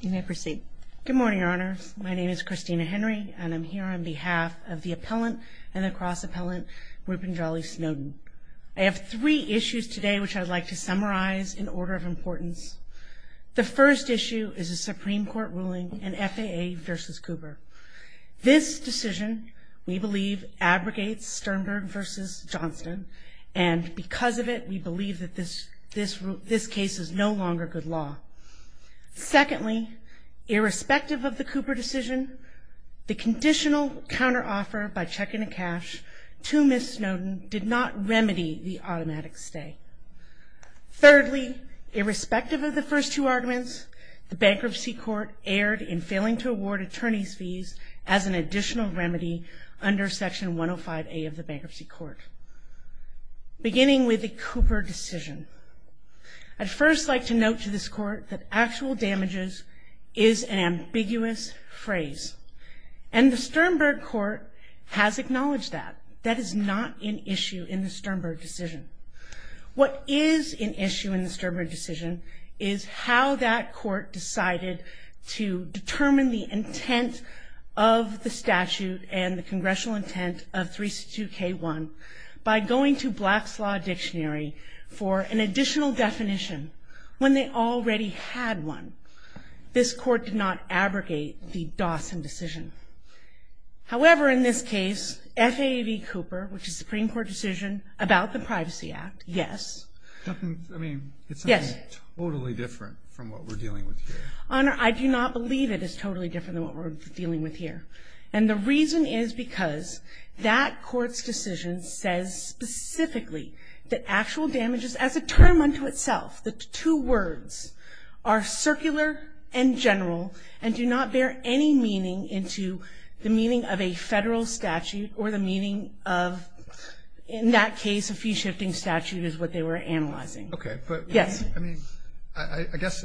You may proceed. Good morning, Your Honor. My name is Christina Henry, and I'm here on behalf of the appellant and the cross-appellant, Rupanjali Snowden. I have three issues today which I'd like to summarize in order of importance. The first issue is a Supreme Court ruling in FAA v. Cooper. This decision, we believe, abrogates Sternberg v. Johnston, and because of it, we believe that this case is no longer good law. Secondly, irrespective of the Cooper decision, the conditional counteroffer by Check Into Cash to Ms. Snowden did not remedy the automatic stay. Thirdly, irrespective of the first two arguments, the bankruptcy court erred in failing to award attorney's fees as an additional remedy under Section 105A of the bankruptcy court. Beginning with the Cooper decision, I'd first like to note to this court that actual damages is an ambiguous phrase, and the Sternberg court has acknowledged that. That is not an issue in the Sternberg decision. What is an issue in the Sternberg decision is how that court decided to determine the intent of the statute and the congressional intent of 362K1 by going to Black's Law Dictionary for an additional definition when they already had one. This court did not abrogate the Dawson decision. However, in this case, FAA v. Cooper, which is a Supreme Court decision about the Privacy Act, yes. I mean, it's something totally different from what we're dealing with here. Honor, I do not believe it is totally different than what we're dealing with here. And the reason is because that court's decision says specifically that actual damages as a term unto itself, the two words, are circular and general and do not bear any meaning into the meaning of a federal statute or the meaning of, in that case, a fee-shifting statute is what they were analyzing. Okay. Yes. I mean, I guess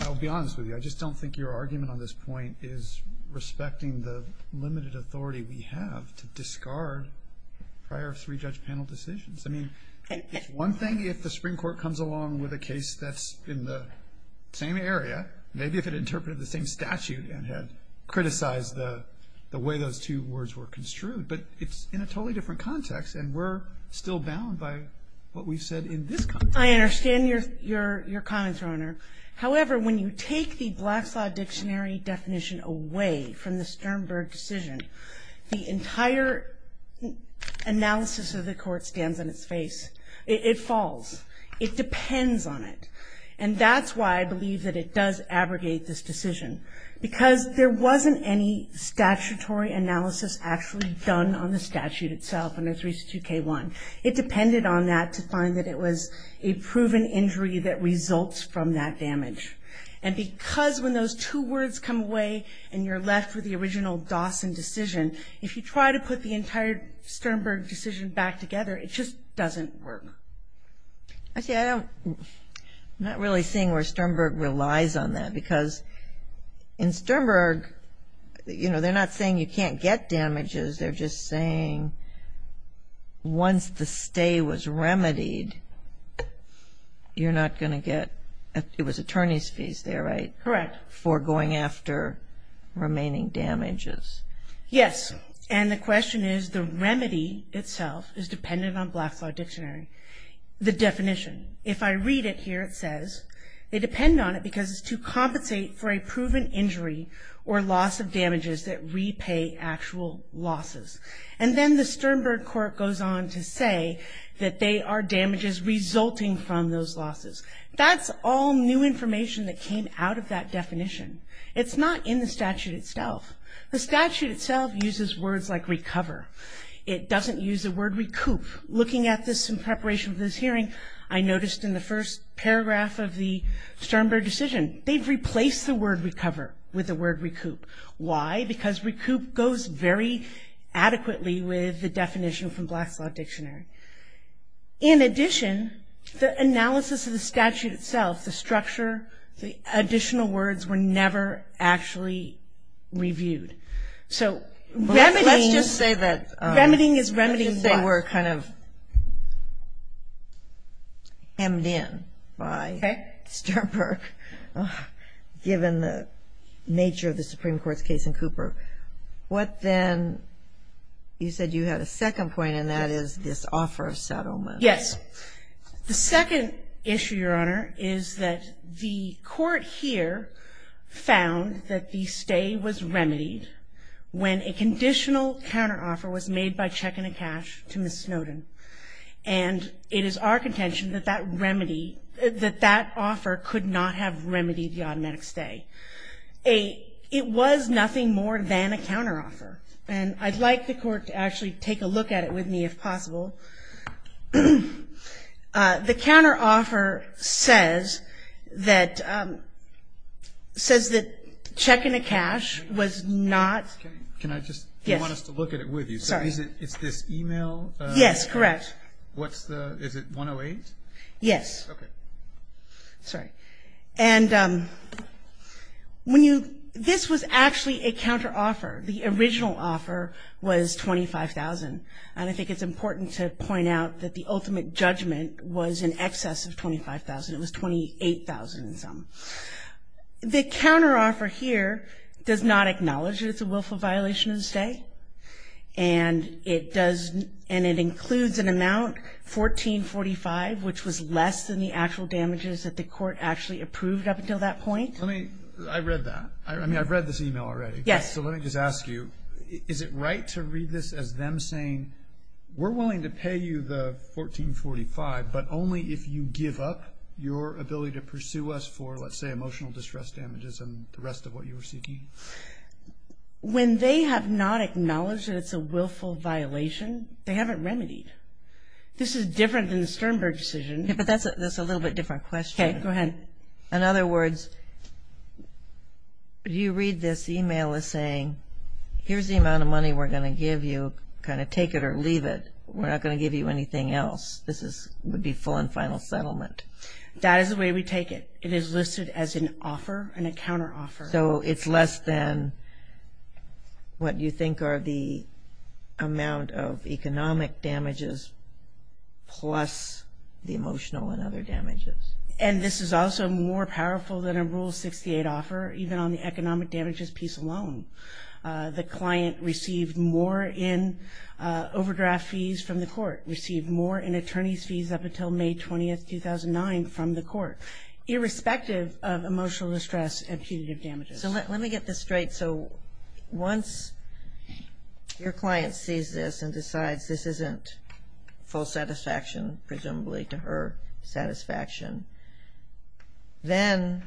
I'll be honest with you. I just don't think your argument on this point is respecting the limited authority we have to discard prior three-judge panel decisions. I mean, it's one thing if the Supreme Court comes along with a case that's in the same area, maybe if it interpreted the same statute and had criticized the way those two words were construed. But it's in a totally different context, and we're still bound by what we've said in this context. I understand your comments, Your Honor. However, when you take the Black's Law Dictionary definition away from the Sternberg decision, the entire analysis of the court stands on its face. It falls. It depends on it. And that's why I believe that it does abrogate this decision, because there wasn't any statutory analysis actually done on the statute itself under 32K1. It depended on that to find that it was a proven injury that results from that damage. And because when those two words come away and you're left with the original Dawson decision, if you try to put the entire Sternberg decision back together, it just doesn't work. I'm not really seeing where Sternberg relies on that, because in Sternberg, you know, they're not saying you can't get damages. They're just saying once the stay was remedied, you're not going to get – it was attorney's fees there, right? Correct. For going after remaining damages. Yes. And the question is the remedy itself is dependent on Black's Law Dictionary, the definition. If I read it here, it says, they depend on it because it's to compensate for a proven injury or loss of damages that repay actual losses. And then the Sternberg court goes on to say that they are damages resulting from those losses. That's all new information that came out of that definition. It's not in the statute itself. The statute itself uses words like recover. It doesn't use the word recoup. Looking at this in preparation for this hearing, I noticed in the first paragraph of the Sternberg decision, they've replaced the word recover with the word recoup. Why? Because recoup goes very adequately with the definition from Black's Law Dictionary. In addition, the analysis of the statute itself, the structure, the additional words were never actually reviewed. So remedying – Let's just say that – Remedying is remedying what? Let's just say we're kind of hemmed in by Sternberg, given the nature of the Supreme Court's case in Cooper. What then – you said you had a second point, and that is this offer of settlement. Yes. The second issue, Your Honor, is that the court here found that the stay was remedied when a conditional counteroffer was made by checking a cash to Ms. Snowden. And it is our contention that that offer could not have remedied the automatic stay. It was nothing more than a counteroffer. And I'd like the court to actually take a look at it with me, if possible. The counteroffer says that checking a cash was not – Can I just – Yes. Do you want us to look at it with you? Sorry. Is this email? Yes, correct. What's the – is it 108? Yes. Okay. Sorry. Okay. And when you – this was actually a counteroffer. The original offer was $25,000, and I think it's important to point out that the ultimate judgment was in excess of $25,000. It was $28,000 and some. The counteroffer here does not acknowledge that it's a willful violation of the stay, and it does – and it includes an amount, $1445, which was less than the actual damages that the court actually approved up until that point. Let me – I read that. I mean, I've read this email already. Yes. So let me just ask you, is it right to read this as them saying, we're willing to pay you the $1445, but only if you give up your ability to pursue us for, let's say, emotional distress damages and the rest of what you were seeking? When they have not acknowledged that it's a willful violation, they haven't remedied. This is different than the Sternberg decision. Yeah, but that's a little bit different question. Okay, go ahead. In other words, you read this email as saying, here's the amount of money we're going to give you, kind of take it or leave it. We're not going to give you anything else. This would be full and final settlement. That is the way we take it. It is listed as an offer, an account or offer. So it's less than what you think are the amount of economic damages plus the emotional and other damages. And this is also more powerful than a Rule 68 offer, even on the economic damages piece alone. The client received more in overdraft fees from the court, received more in attorney's fees up until May 20, 2009, from the court, irrespective of emotional distress and punitive damages. So let me get this straight. So once your client sees this and decides this isn't full satisfaction, presumably to her satisfaction, then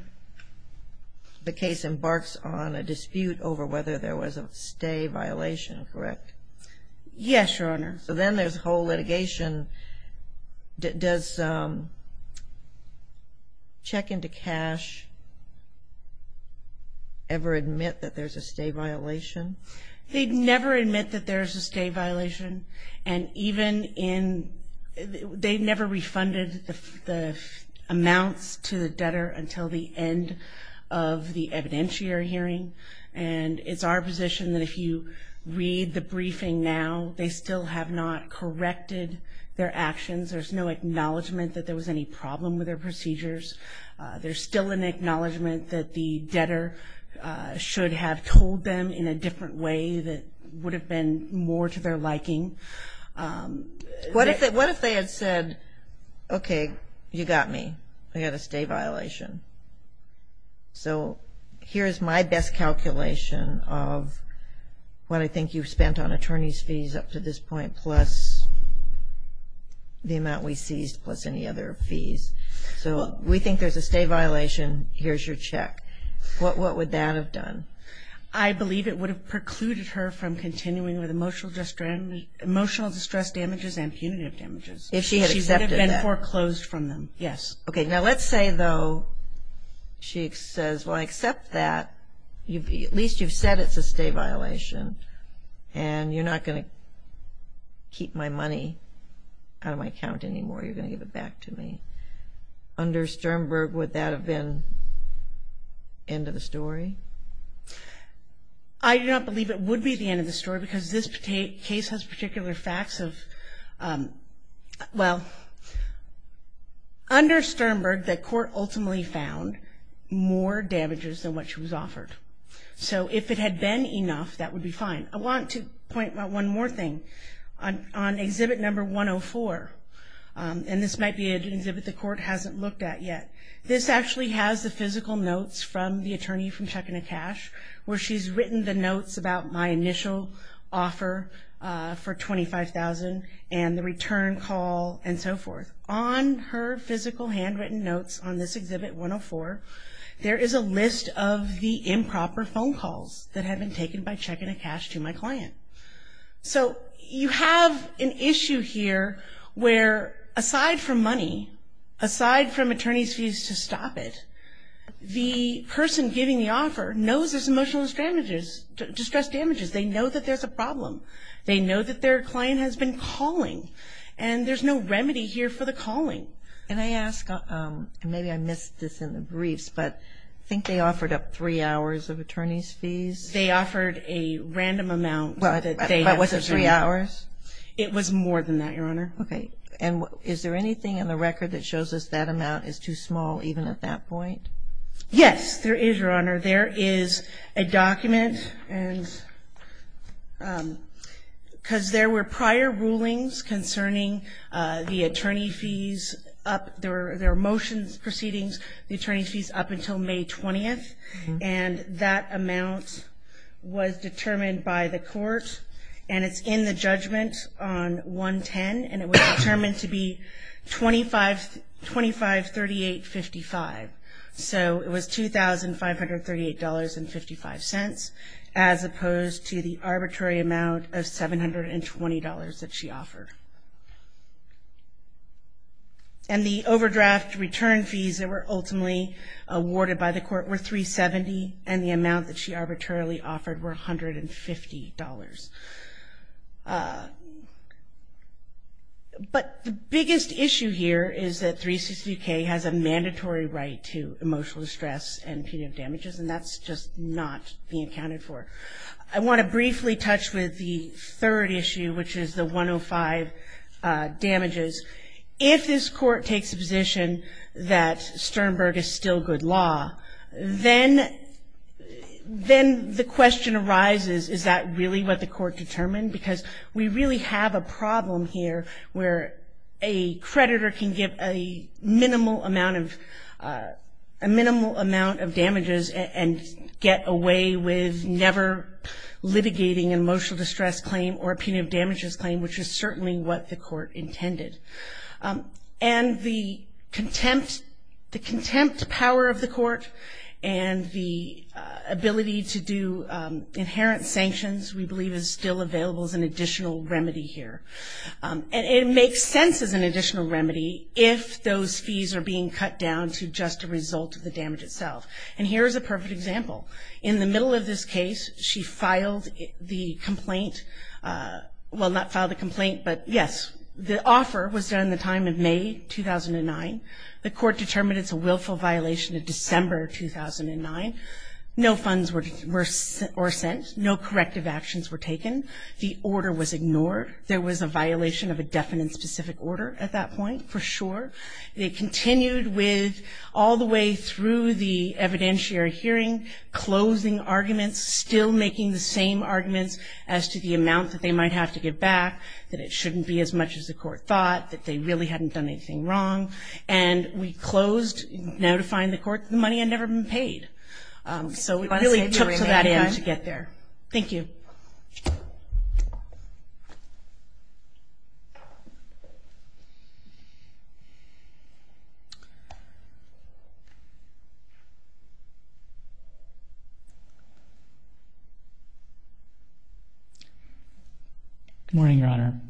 the case embarks on a dispute over whether there was a stay violation, correct? Yes, Your Honor. So then there's whole litigation. Does Check into Cash ever admit that there's a stay violation? They never admit that there's a stay violation, and even in they never refunded the amounts to the debtor until the end of the evidentiary hearing. And it's our position that if you read the briefing now, they still have not corrected their actions. There's no acknowledgment that there was any problem with their procedures. There's still an acknowledgment that the debtor should have told them in a different way that would have been more to their liking. What if they had said, okay, you got me. I got a stay violation. So here's my best calculation of what I think you've spent on attorney's fees up to this point plus the amount we seized plus any other fees. So we think there's a stay violation. Here's your check. What would that have done? I believe it would have precluded her from continuing with emotional distress damages and punitive damages. If she had accepted that. She would have been foreclosed from them, yes. Okay, now let's say, though, she says, well, I accept that. At least you've said it's a stay violation and you're not going to keep my money out of my account anymore. You're going to give it back to me. Under Sternberg, would that have been end of the story? I do not believe it would be the end of the story because this case has particular facts of, well, under Sternberg, the court ultimately found more damages than what she was offered. So if it had been enough, that would be fine. I want to point out one more thing. On exhibit number 104, and this might be an exhibit the court hasn't looked at yet, this actually has the physical notes from the attorney from checking the cash where she's written the notes about my initial offer for $25,000 and the return call and so forth. On her physical handwritten notes on this exhibit 104, there is a list of the improper phone calls that had been taken by checking a cash to my client. So you have an issue here where, aside from money, aside from attorney's fees to stop it, the person giving the offer knows there's emotional distress damages. They know that there's a problem. They know that their client has been calling, and there's no remedy here for the calling. And I ask, and maybe I missed this in the briefs, but I think they offered up three hours of attorney's fees. They offered a random amount. But was it three hours? It was more than that, Your Honor. Okay. And is there anything in the record that shows us that amount is too small even at that point? Yes, there is, Your Honor. There is a document, and because there were prior rulings concerning the attorney fees, there were motion proceedings, the attorney fees up until May 20th, and that amount was determined by the court, and it's in the judgment on 110, and it was determined to be $25,3855. So it was $2,538.55, as opposed to the arbitrary amount of $720 that she offered. And the overdraft return fees that were ultimately awarded by the court were $370, and the amount that she arbitrarily offered were $150. But the biggest issue here is that 363K has a mandatory right to emotional distress and punitive damages, and that's just not being accounted for. I want to briefly touch with the third issue, which is the 105 damages. If this court takes the position that Sternberg is still good law, then the question arises, is that really what the court determined? Because we really have a problem here where a creditor can give a minimal amount of damages and get away with never litigating an emotional distress claim or a punitive damages claim, which is certainly what the court intended. And the contempt power of the court and the ability to do inherent sanctions we believe is still available as an additional remedy here. And it makes sense as an additional remedy if those fees are being cut down to just a result of the damage itself. And here is a perfect example. In the middle of this case, she filed the complaint. Well, not filed the complaint, but yes, the offer was done in the time of May 2009. The court determined it's a willful violation of December 2009. No funds were sent. No corrective actions were taken. The order was ignored. There was a violation of a definite specific order at that point, for sure. It continued with all the way through the evidentiary hearing, closing arguments, still making the same arguments as to the amount that they might have to give back, that it shouldn't be as much as the court thought, that they really hadn't done anything wrong. And we closed, now defying the court, the money had never been paid. So it really took that in to get there. Thank you. Good morning, Your Honor.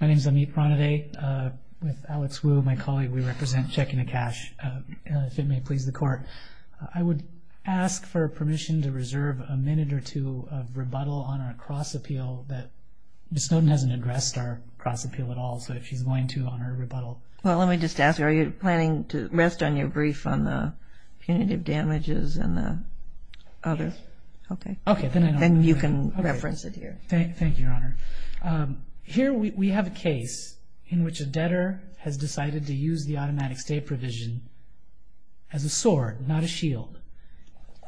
My name is Amit Pranade. With Alex Wu, my colleague, we represent Check into Cash, if it may please the court. I would ask for permission to reserve a minute or two of rebuttal on our cross appeal that Ms. Snowden hasn't addressed our cross appeal at all, so if she's going to on her rebuttal. Well, let me just ask, are you planning to rest on your brief on the punitive damages and the other? Okay. Then you can reference it here. Thank you, Your Honor. Here we have a case in which a debtor has decided to use the automatic stay provision as a sword, not a shield,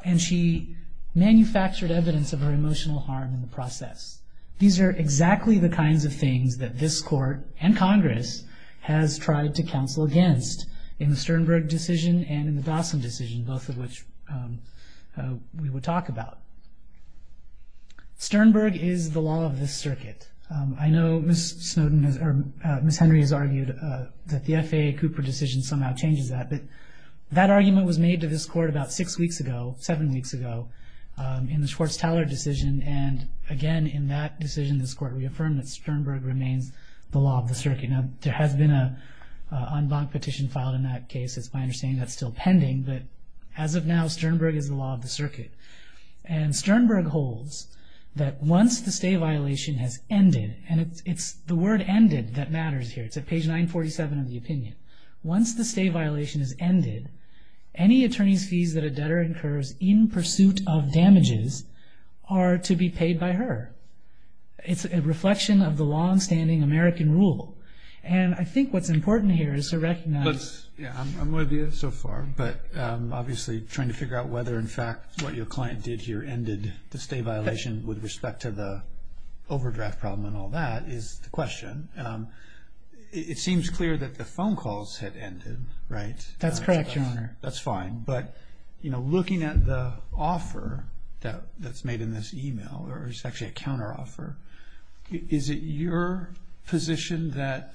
and she manufactured evidence of her emotional harm in the process. These are exactly the kinds of things that this court and Congress has tried to counsel against in the Sternberg decision and in the Dawson decision, both of which we will talk about. Sternberg is the law of this circuit. I know Ms. Henry has argued that the FAA Cooper decision somehow changes that, but that argument was made to this court about six weeks ago, seven weeks ago, in the Schwartz-Teller decision, and again in that decision this court reaffirmed that Sternberg remains the law of the circuit. Now, there has been an en banc petition filed in that case. It's my understanding that's still pending, but as of now Sternberg is the law of the circuit. And Sternberg holds that once the stay violation has ended, and it's the word ended that matters here. It's at page 947 of the opinion. Once the stay violation has ended, any attorney's fees that a debtor incurs in pursuit of damages are to be paid by her. It's a reflection of the longstanding American rule, and I think what's important here is to recognize I'm with you so far, but obviously trying to figure out whether in fact what your client did here ended the stay violation with respect to the overdraft problem and all that is the question. It seems clear that the phone calls had ended, right? That's correct, Your Honor. That's fine, but looking at the offer that's made in this e-mail, or it's actually a counteroffer, is it your position that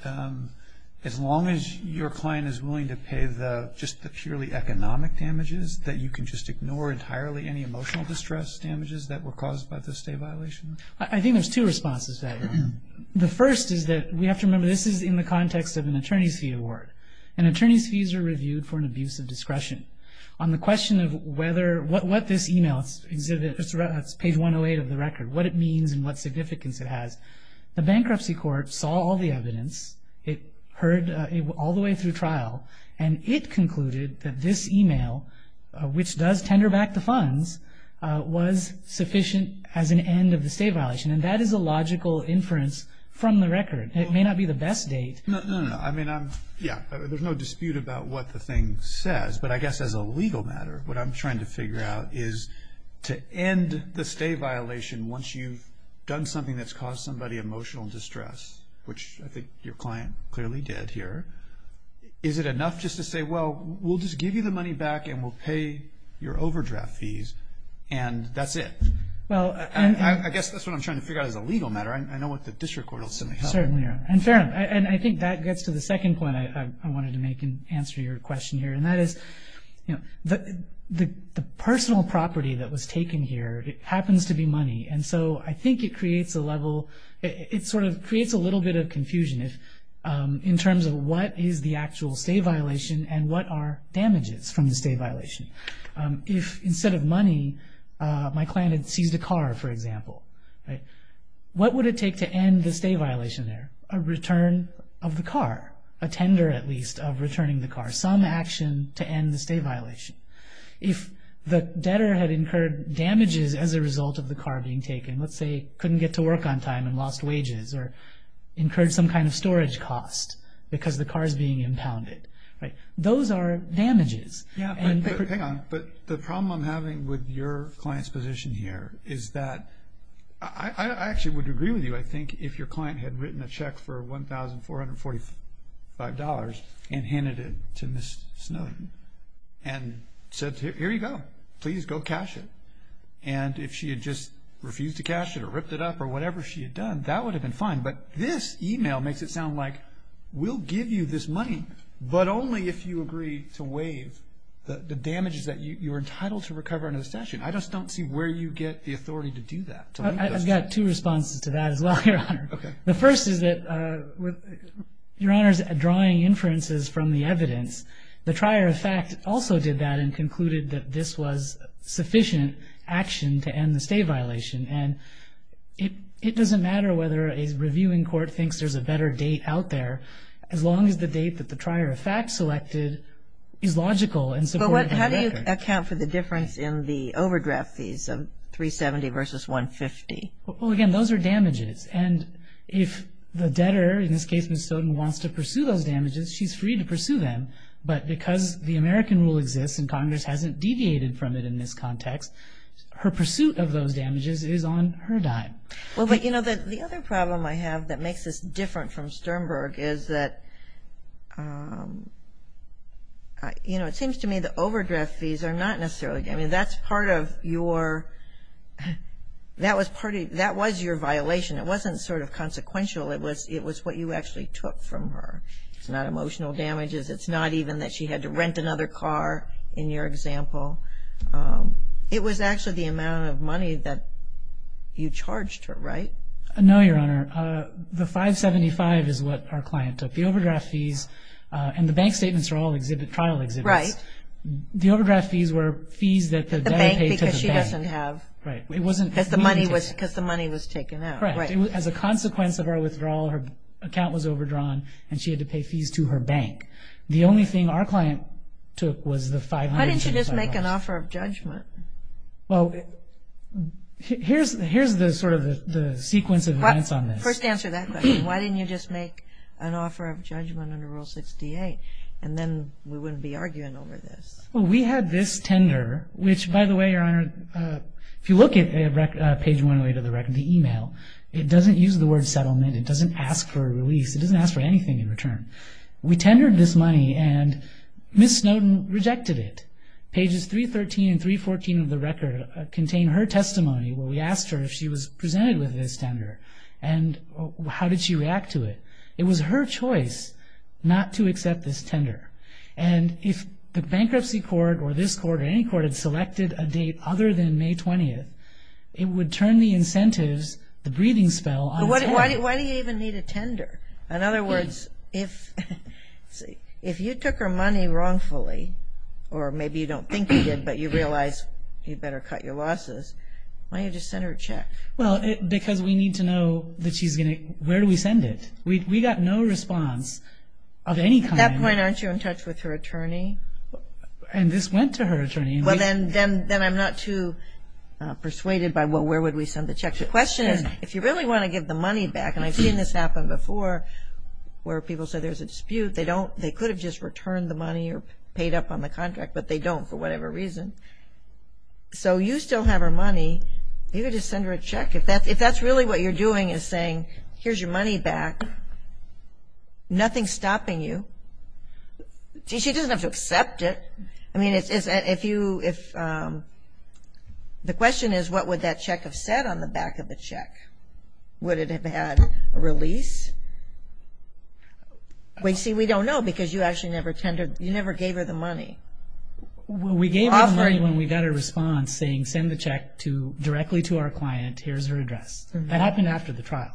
as long as your client is willing to pay just the purely economic damages, that you can just ignore entirely any emotional distress damages that were caused by the stay violation? I think there's two responses to that, Your Honor. The first is that we have to remember this is in the context of an attorney's fee award, and attorney's fees are reviewed for an abuse of discretion. On the question of what this e-mail, it's page 108 of the record, what it means and what significance it has, the bankruptcy court saw all the evidence, it heard all the way through trial, and it concluded that this e-mail, which does tender back the funds, was sufficient as an end of the stay violation, and that is a logical inference from the record. It may not be the best date. No, no, no. I mean, yeah, there's no dispute about what the thing says, but I guess as a legal matter, what I'm trying to figure out is to end the stay violation once you've done something that's caused somebody emotional distress, which I think your client clearly did here, is it enough just to say, well, we'll just give you the money back and we'll pay your overdraft fees, and that's it? I guess that's what I'm trying to figure out as a legal matter. I know what the district court will certainly help. Certainly. And, Farron, I think that gets to the second point I wanted to make in answer to your question here, and that is the personal property that was taken here happens to be money, and so I think it creates a level, it sort of creates a little bit of confusion in terms of what is the actual stay violation and what are damages from the stay violation. If instead of money my client had seized a car, for example, what would it take to end the stay violation there? A return of the car, a tender at least of returning the car, some action to end the stay violation. If the debtor had incurred damages as a result of the car being taken, let's say couldn't get to work on time and lost wages or incurred some kind of storage cost because the car is being impounded, those are damages. But the problem I'm having with your client's position here is that I actually would agree with you, I think, if your client had written a check for $1,445 and handed it to Ms. Snowden and said, here you go, please go cash it. And if she had just refused to cash it or ripped it up or whatever she had done, that would have been fine, but this email makes it sound like we'll give you this money, but only if you agree to waive the damages that you're entitled to recover under the statute. I just don't see where you get the authority to do that. I've got two responses to that as well, Your Honor. Okay. The first is that with Your Honor's drawing inferences from the evidence, the trier of fact also did that and concluded that this was sufficient action to end the stay violation. And it doesn't matter whether a reviewing court thinks there's a better date out there, as long as the date that the trier of fact selected is logical and supported by the record. But how do you account for the difference in the overdraft fees of $370 versus $150? Well, again, those are damages. And if the debtor, in this case Ms. Snowden, wants to pursue those damages, she's free to pursue them. But because the American rule exists and Congress hasn't deviated from it in this context, her pursuit of those damages is on her dime. Well, but, you know, the other problem I have that makes this different from Sternberg is that, you know, it seems to me the overdraft fees are not necessarily, I mean, that's part of your, that was your violation. It wasn't sort of consequential. It was what you actually took from her. It's not emotional damages. It's not even that she had to rent another car, in your example. It was actually the amount of money that you charged her, right? No, Your Honor. The $575 is what our client took. The overdraft fees and the bank statements are all trial exhibits. Right. The overdraft fees were fees that the debtor paid to the bank. The bank because she doesn't have. Right. Because the money was taken out. Correct. As a consequence of her withdrawal, her account was overdrawn and she had to pay fees to her bank. The only thing our client took was the $575. Why didn't you just make an offer of judgment? Well, here's the sort of the sequence of events on this. First answer that question. Why didn't you just make an offer of judgment under Rule 68? And then we wouldn't be arguing over this. Well, we had this tender, which, by the way, Your Honor, if you look at page 108 of the email, it doesn't use the word settlement. It doesn't ask for a release. It doesn't ask for anything in return. We tendered this money and Ms. Snowden rejected it. Pages 313 and 314 of the record contain her testimony where we asked her if she was presented with this tender and how did she react to it. It was her choice not to accept this tender. And if the bankruptcy court or this court or any court had selected a date other than May 20th, it would turn the incentives, the breathing spell, on its head. Why do you even need a tender? In other words, if you took her money wrongfully, or maybe you don't think you did, but you realize you better cut your losses, why don't you just send her a check? Well, because we need to know that she's going to – where do we send it? We got no response of any kind. At that point, aren't you in touch with her attorney? And this went to her attorney. Well, then I'm not too persuaded by where would we send the check. The question is if you really want to give the money back, and I've seen this happen before where people say there's a dispute, they could have just returned the money or paid up on the contract, but they don't for whatever reason. So you still have her money. You could just send her a check. If that's really what you're doing is saying here's your money back, nothing's stopping you. She doesn't have to accept it. I mean, if you – the question is what would that check have said on the back of the check? Would it have had a release? See, we don't know because you actually never tendered – you never gave her the money. We gave her the money when we got a response saying send the check directly to our client. Here's her address. That happened after the trial.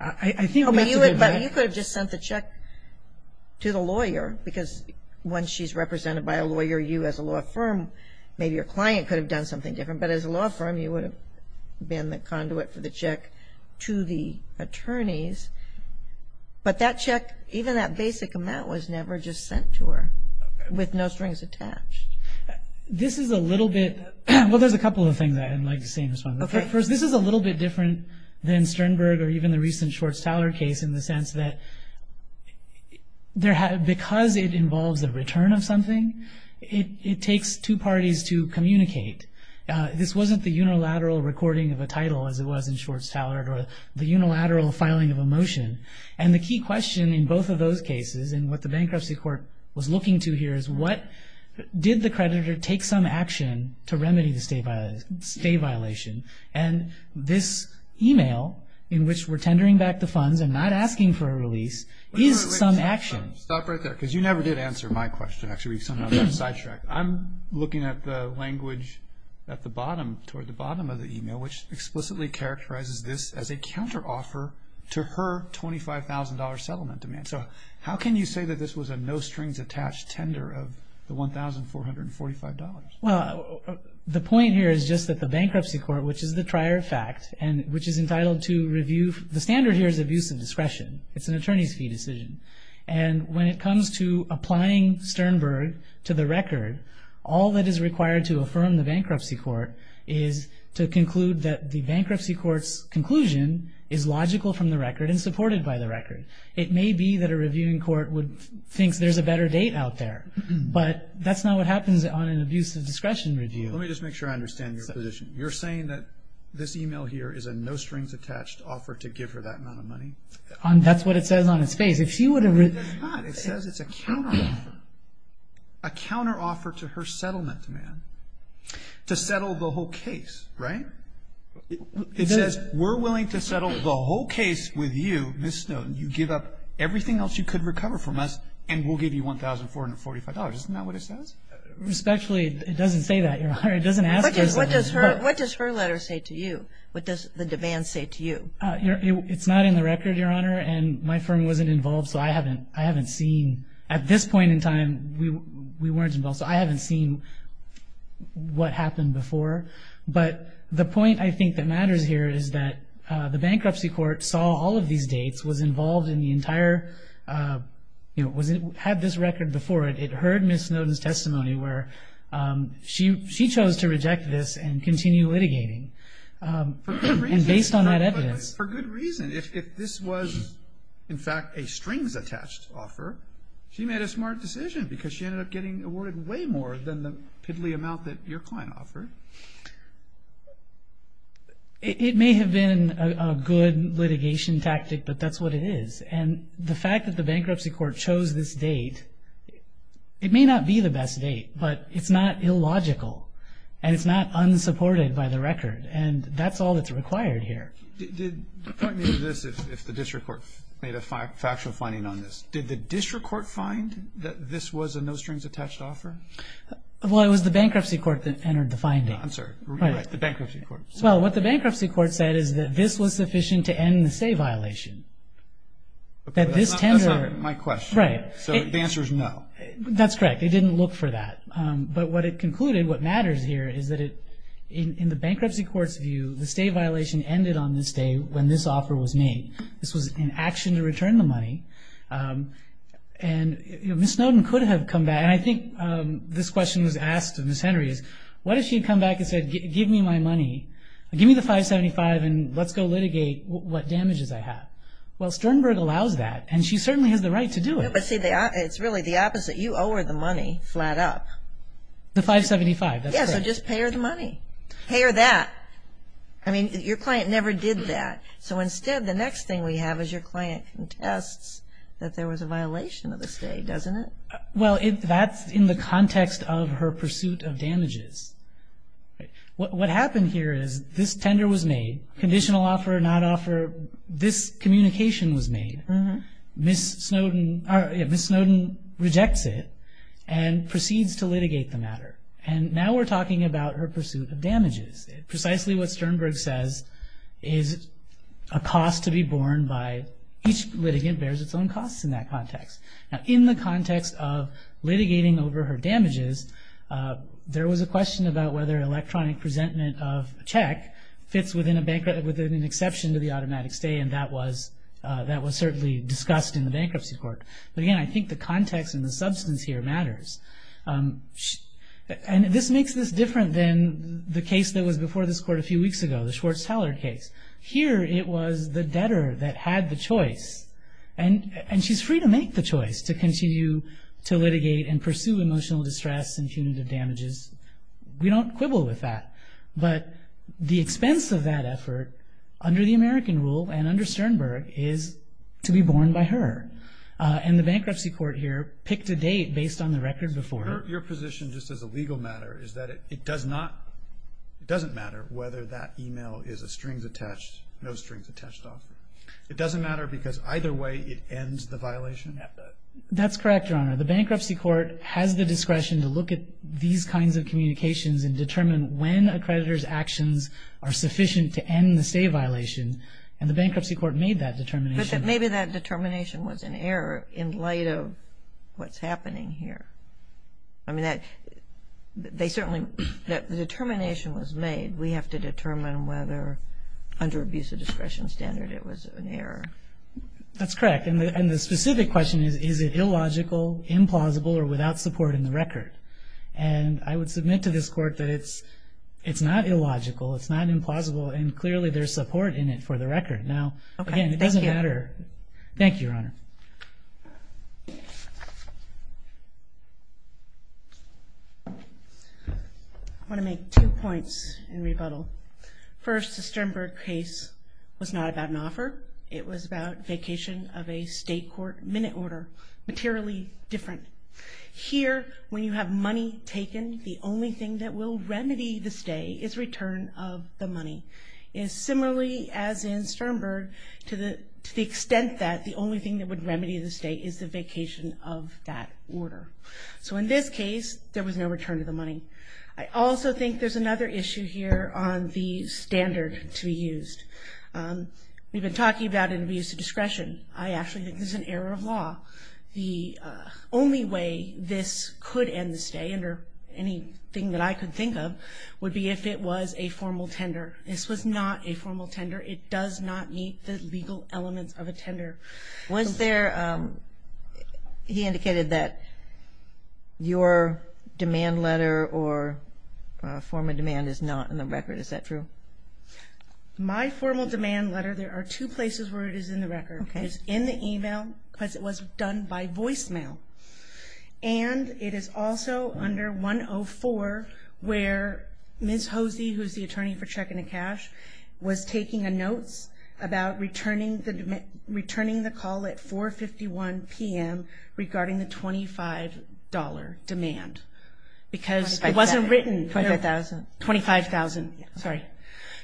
I think we have to be – But you could have just sent the check to the lawyer because once she's represented by a lawyer, you as a law firm, maybe your client could have done something different. But as a law firm, you would have been the conduit for the check to the attorneys. But that check, even that basic amount was never just sent to her with no strings attached. This is a little bit – well, there's a couple of things I'd like to say in response. First, this is a little bit different than Sternberg or even the recent Schwartz-Tallard case in the sense that because it involves the return of something, it takes two parties to communicate. This wasn't the unilateral recording of a title as it was in Schwartz-Tallard or the unilateral filing of a motion. And the key question in both of those cases and what the bankruptcy court was looking to here is what did the creditor take some action to remedy the stay violation? And this email in which we're tendering back the funds and not asking for a release is some action. Stop right there because you never did answer my question. Actually, we somehow got sidetracked. I'm looking at the language at the bottom, toward the bottom of the email, which explicitly characterizes this as a counteroffer to her $25,000 settlement demand. So how can you say that this was a no-strings-attached tender of the $1,445? Well, the point here is just that the bankruptcy court, which is the prior fact, and which is entitled to review the standard here is abuse of discretion. It's an attorney's fee decision. And when it comes to applying Sternberg to the record, all that is required to affirm the bankruptcy court is to conclude that the bankruptcy court's conclusion is logical from the record and supported by the record. It may be that a reviewing court would think there's a better date out there, but that's not what happens on an abuse of discretion review. Let me just make sure I understand your position. You're saying that this email here is a no-strings-attached offer to give her that amount of money? That's what it says on its face. That's not. It says it's a counteroffer. A counteroffer to her settlement demand to settle the whole case, right? It says we're willing to settle the whole case with you, Ms. Snowden. You give up everything else you could recover from us, and we'll give you $1,445. Isn't that what it says? Respectfully, it doesn't say that, Your Honor. It doesn't ask us. What does her letter say to you? What does the demand say to you? It's not in the record, Your Honor, and my firm wasn't involved, so I haven't seen. At this point in time, we weren't involved, so I haven't seen what happened before. But the point I think that matters here is that the bankruptcy court saw all of these dates, was involved in the entire, had this record before it. It heard Ms. Snowden's testimony where she chose to reject this and continue litigating. And based on that evidence. For good reason. If this was, in fact, a strings-attached offer, she made a smart decision because she ended up getting awarded way more than the piddly amount that your client offered. It may have been a good litigation tactic, but that's what it is. And the fact that the bankruptcy court chose this date, it may not be the best date, but it's not illogical and it's not unsupported by the record. And that's all that's required here. Point me to this if the district court made a factual finding on this. Did the district court find that this was a no-strings-attached offer? Well, it was the bankruptcy court that entered the finding. I'm sorry. The bankruptcy court. Well, what the bankruptcy court said is that this was sufficient to end the stay violation. That this tender. That's not my question. Right. So the answer is no. That's correct. It didn't look for that. But what it concluded, what matters here is that in the bankruptcy court's view, the stay violation ended on this day when this offer was made. This was an action to return the money. And Ms. Snowden could have come back. And I think this question was asked to Ms. Henry is, what if she had come back and said, give me my money, give me the 575, and let's go litigate what damages I have. Well, Sternberg allows that, and she certainly has the right to do it. But see, it's really the opposite. You owe her the money flat up. The 575. Yeah, so just pay her the money. Pay her that. I mean, your client never did that. So instead, the next thing we have is your client contests that there was a violation of the stay, doesn't it? Well, that's in the context of her pursuit of damages. What happened here is this tender was made. Conditional offer, not offer, this communication was made. Ms. Snowden rejects it and proceeds to litigate the matter. And now we're talking about her pursuit of damages. Precisely what Sternberg says is a cost to be borne by each litigant bears its own costs in that context. Now, in the context of litigating over her damages, there was a question about whether electronic presentment of a check fits within an exception to the automatic stay, and that was certainly discussed in the bankruptcy court. But, again, I think the context and the substance here matters. And this makes this different than the case that was before this court a few weeks ago, the Schwartz-Tallard case. Here it was the debtor that had the choice, and she's free to make the choice to continue to litigate and pursue emotional distress and punitive damages. We don't quibble with that. But the expense of that effort, under the American rule and under Sternberg, is to be borne by her. And the bankruptcy court here picked a date based on the record before it. Your position, just as a legal matter, is that it doesn't matter whether that e-mail is a strings-attached, no-strings-attached offer. It doesn't matter because either way it ends the violation? That's correct, Your Honor. The bankruptcy court has the discretion to look at these kinds of communications and determine when a creditor's actions are sufficient to end the stay violation, and the bankruptcy court made that determination. But maybe that determination was an error in light of what's happening here. I mean, they certainly – the determination was made. We have to determine whether under abuse of discretion standard it was an error. That's correct. And the specific question is, is it illogical, implausible, or without support in the record? And I would submit to this court that it's not illogical, it's not implausible, and clearly there's support in it for the record. Now, again, it doesn't matter. Okay, thank you. Thank you, Your Honor. I want to make two points in rebuttal. First, the Sternberg case was not about an offer. It was about vacation of a state court minute order, materially different. Here, when you have money taken, the only thing that will remedy the stay is return of the money. Similarly, as in Sternberg, to the extent that the only thing that would remedy the stay is the vacation of that order. So in this case, there was no return of the money. I also think there's another issue here on the standard to be used. We've been talking about abuse of discretion. I actually think this is an error of law. The only way this could end the stay, under anything that I could think of, would be if it was a formal tender. This was not a formal tender. It does not meet the legal elements of a tender. He indicated that your demand letter or form of demand is not in the record. Is that true? My formal demand letter, there are two places where it is in the record. It's in the e-mail because it was done by voicemail. And it is also under 104 where Ms. Hosey, who is the attorney for checking the cash, was taking notes about returning the call at 4.51 p.m. regarding the $25 demand. Because it wasn't written. $25,000. $25,000. Sorry.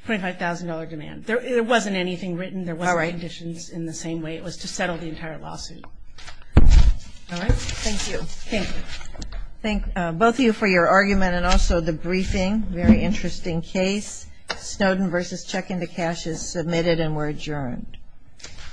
$25,000 demand. There wasn't anything written. There wasn't conditions in the same way. It was to settle the entire lawsuit. All right. Thank you. Okay. Thank both of you for your argument and also the briefing. Very interesting case. Snowden v. Checking the Cash is submitted and we're adjourned.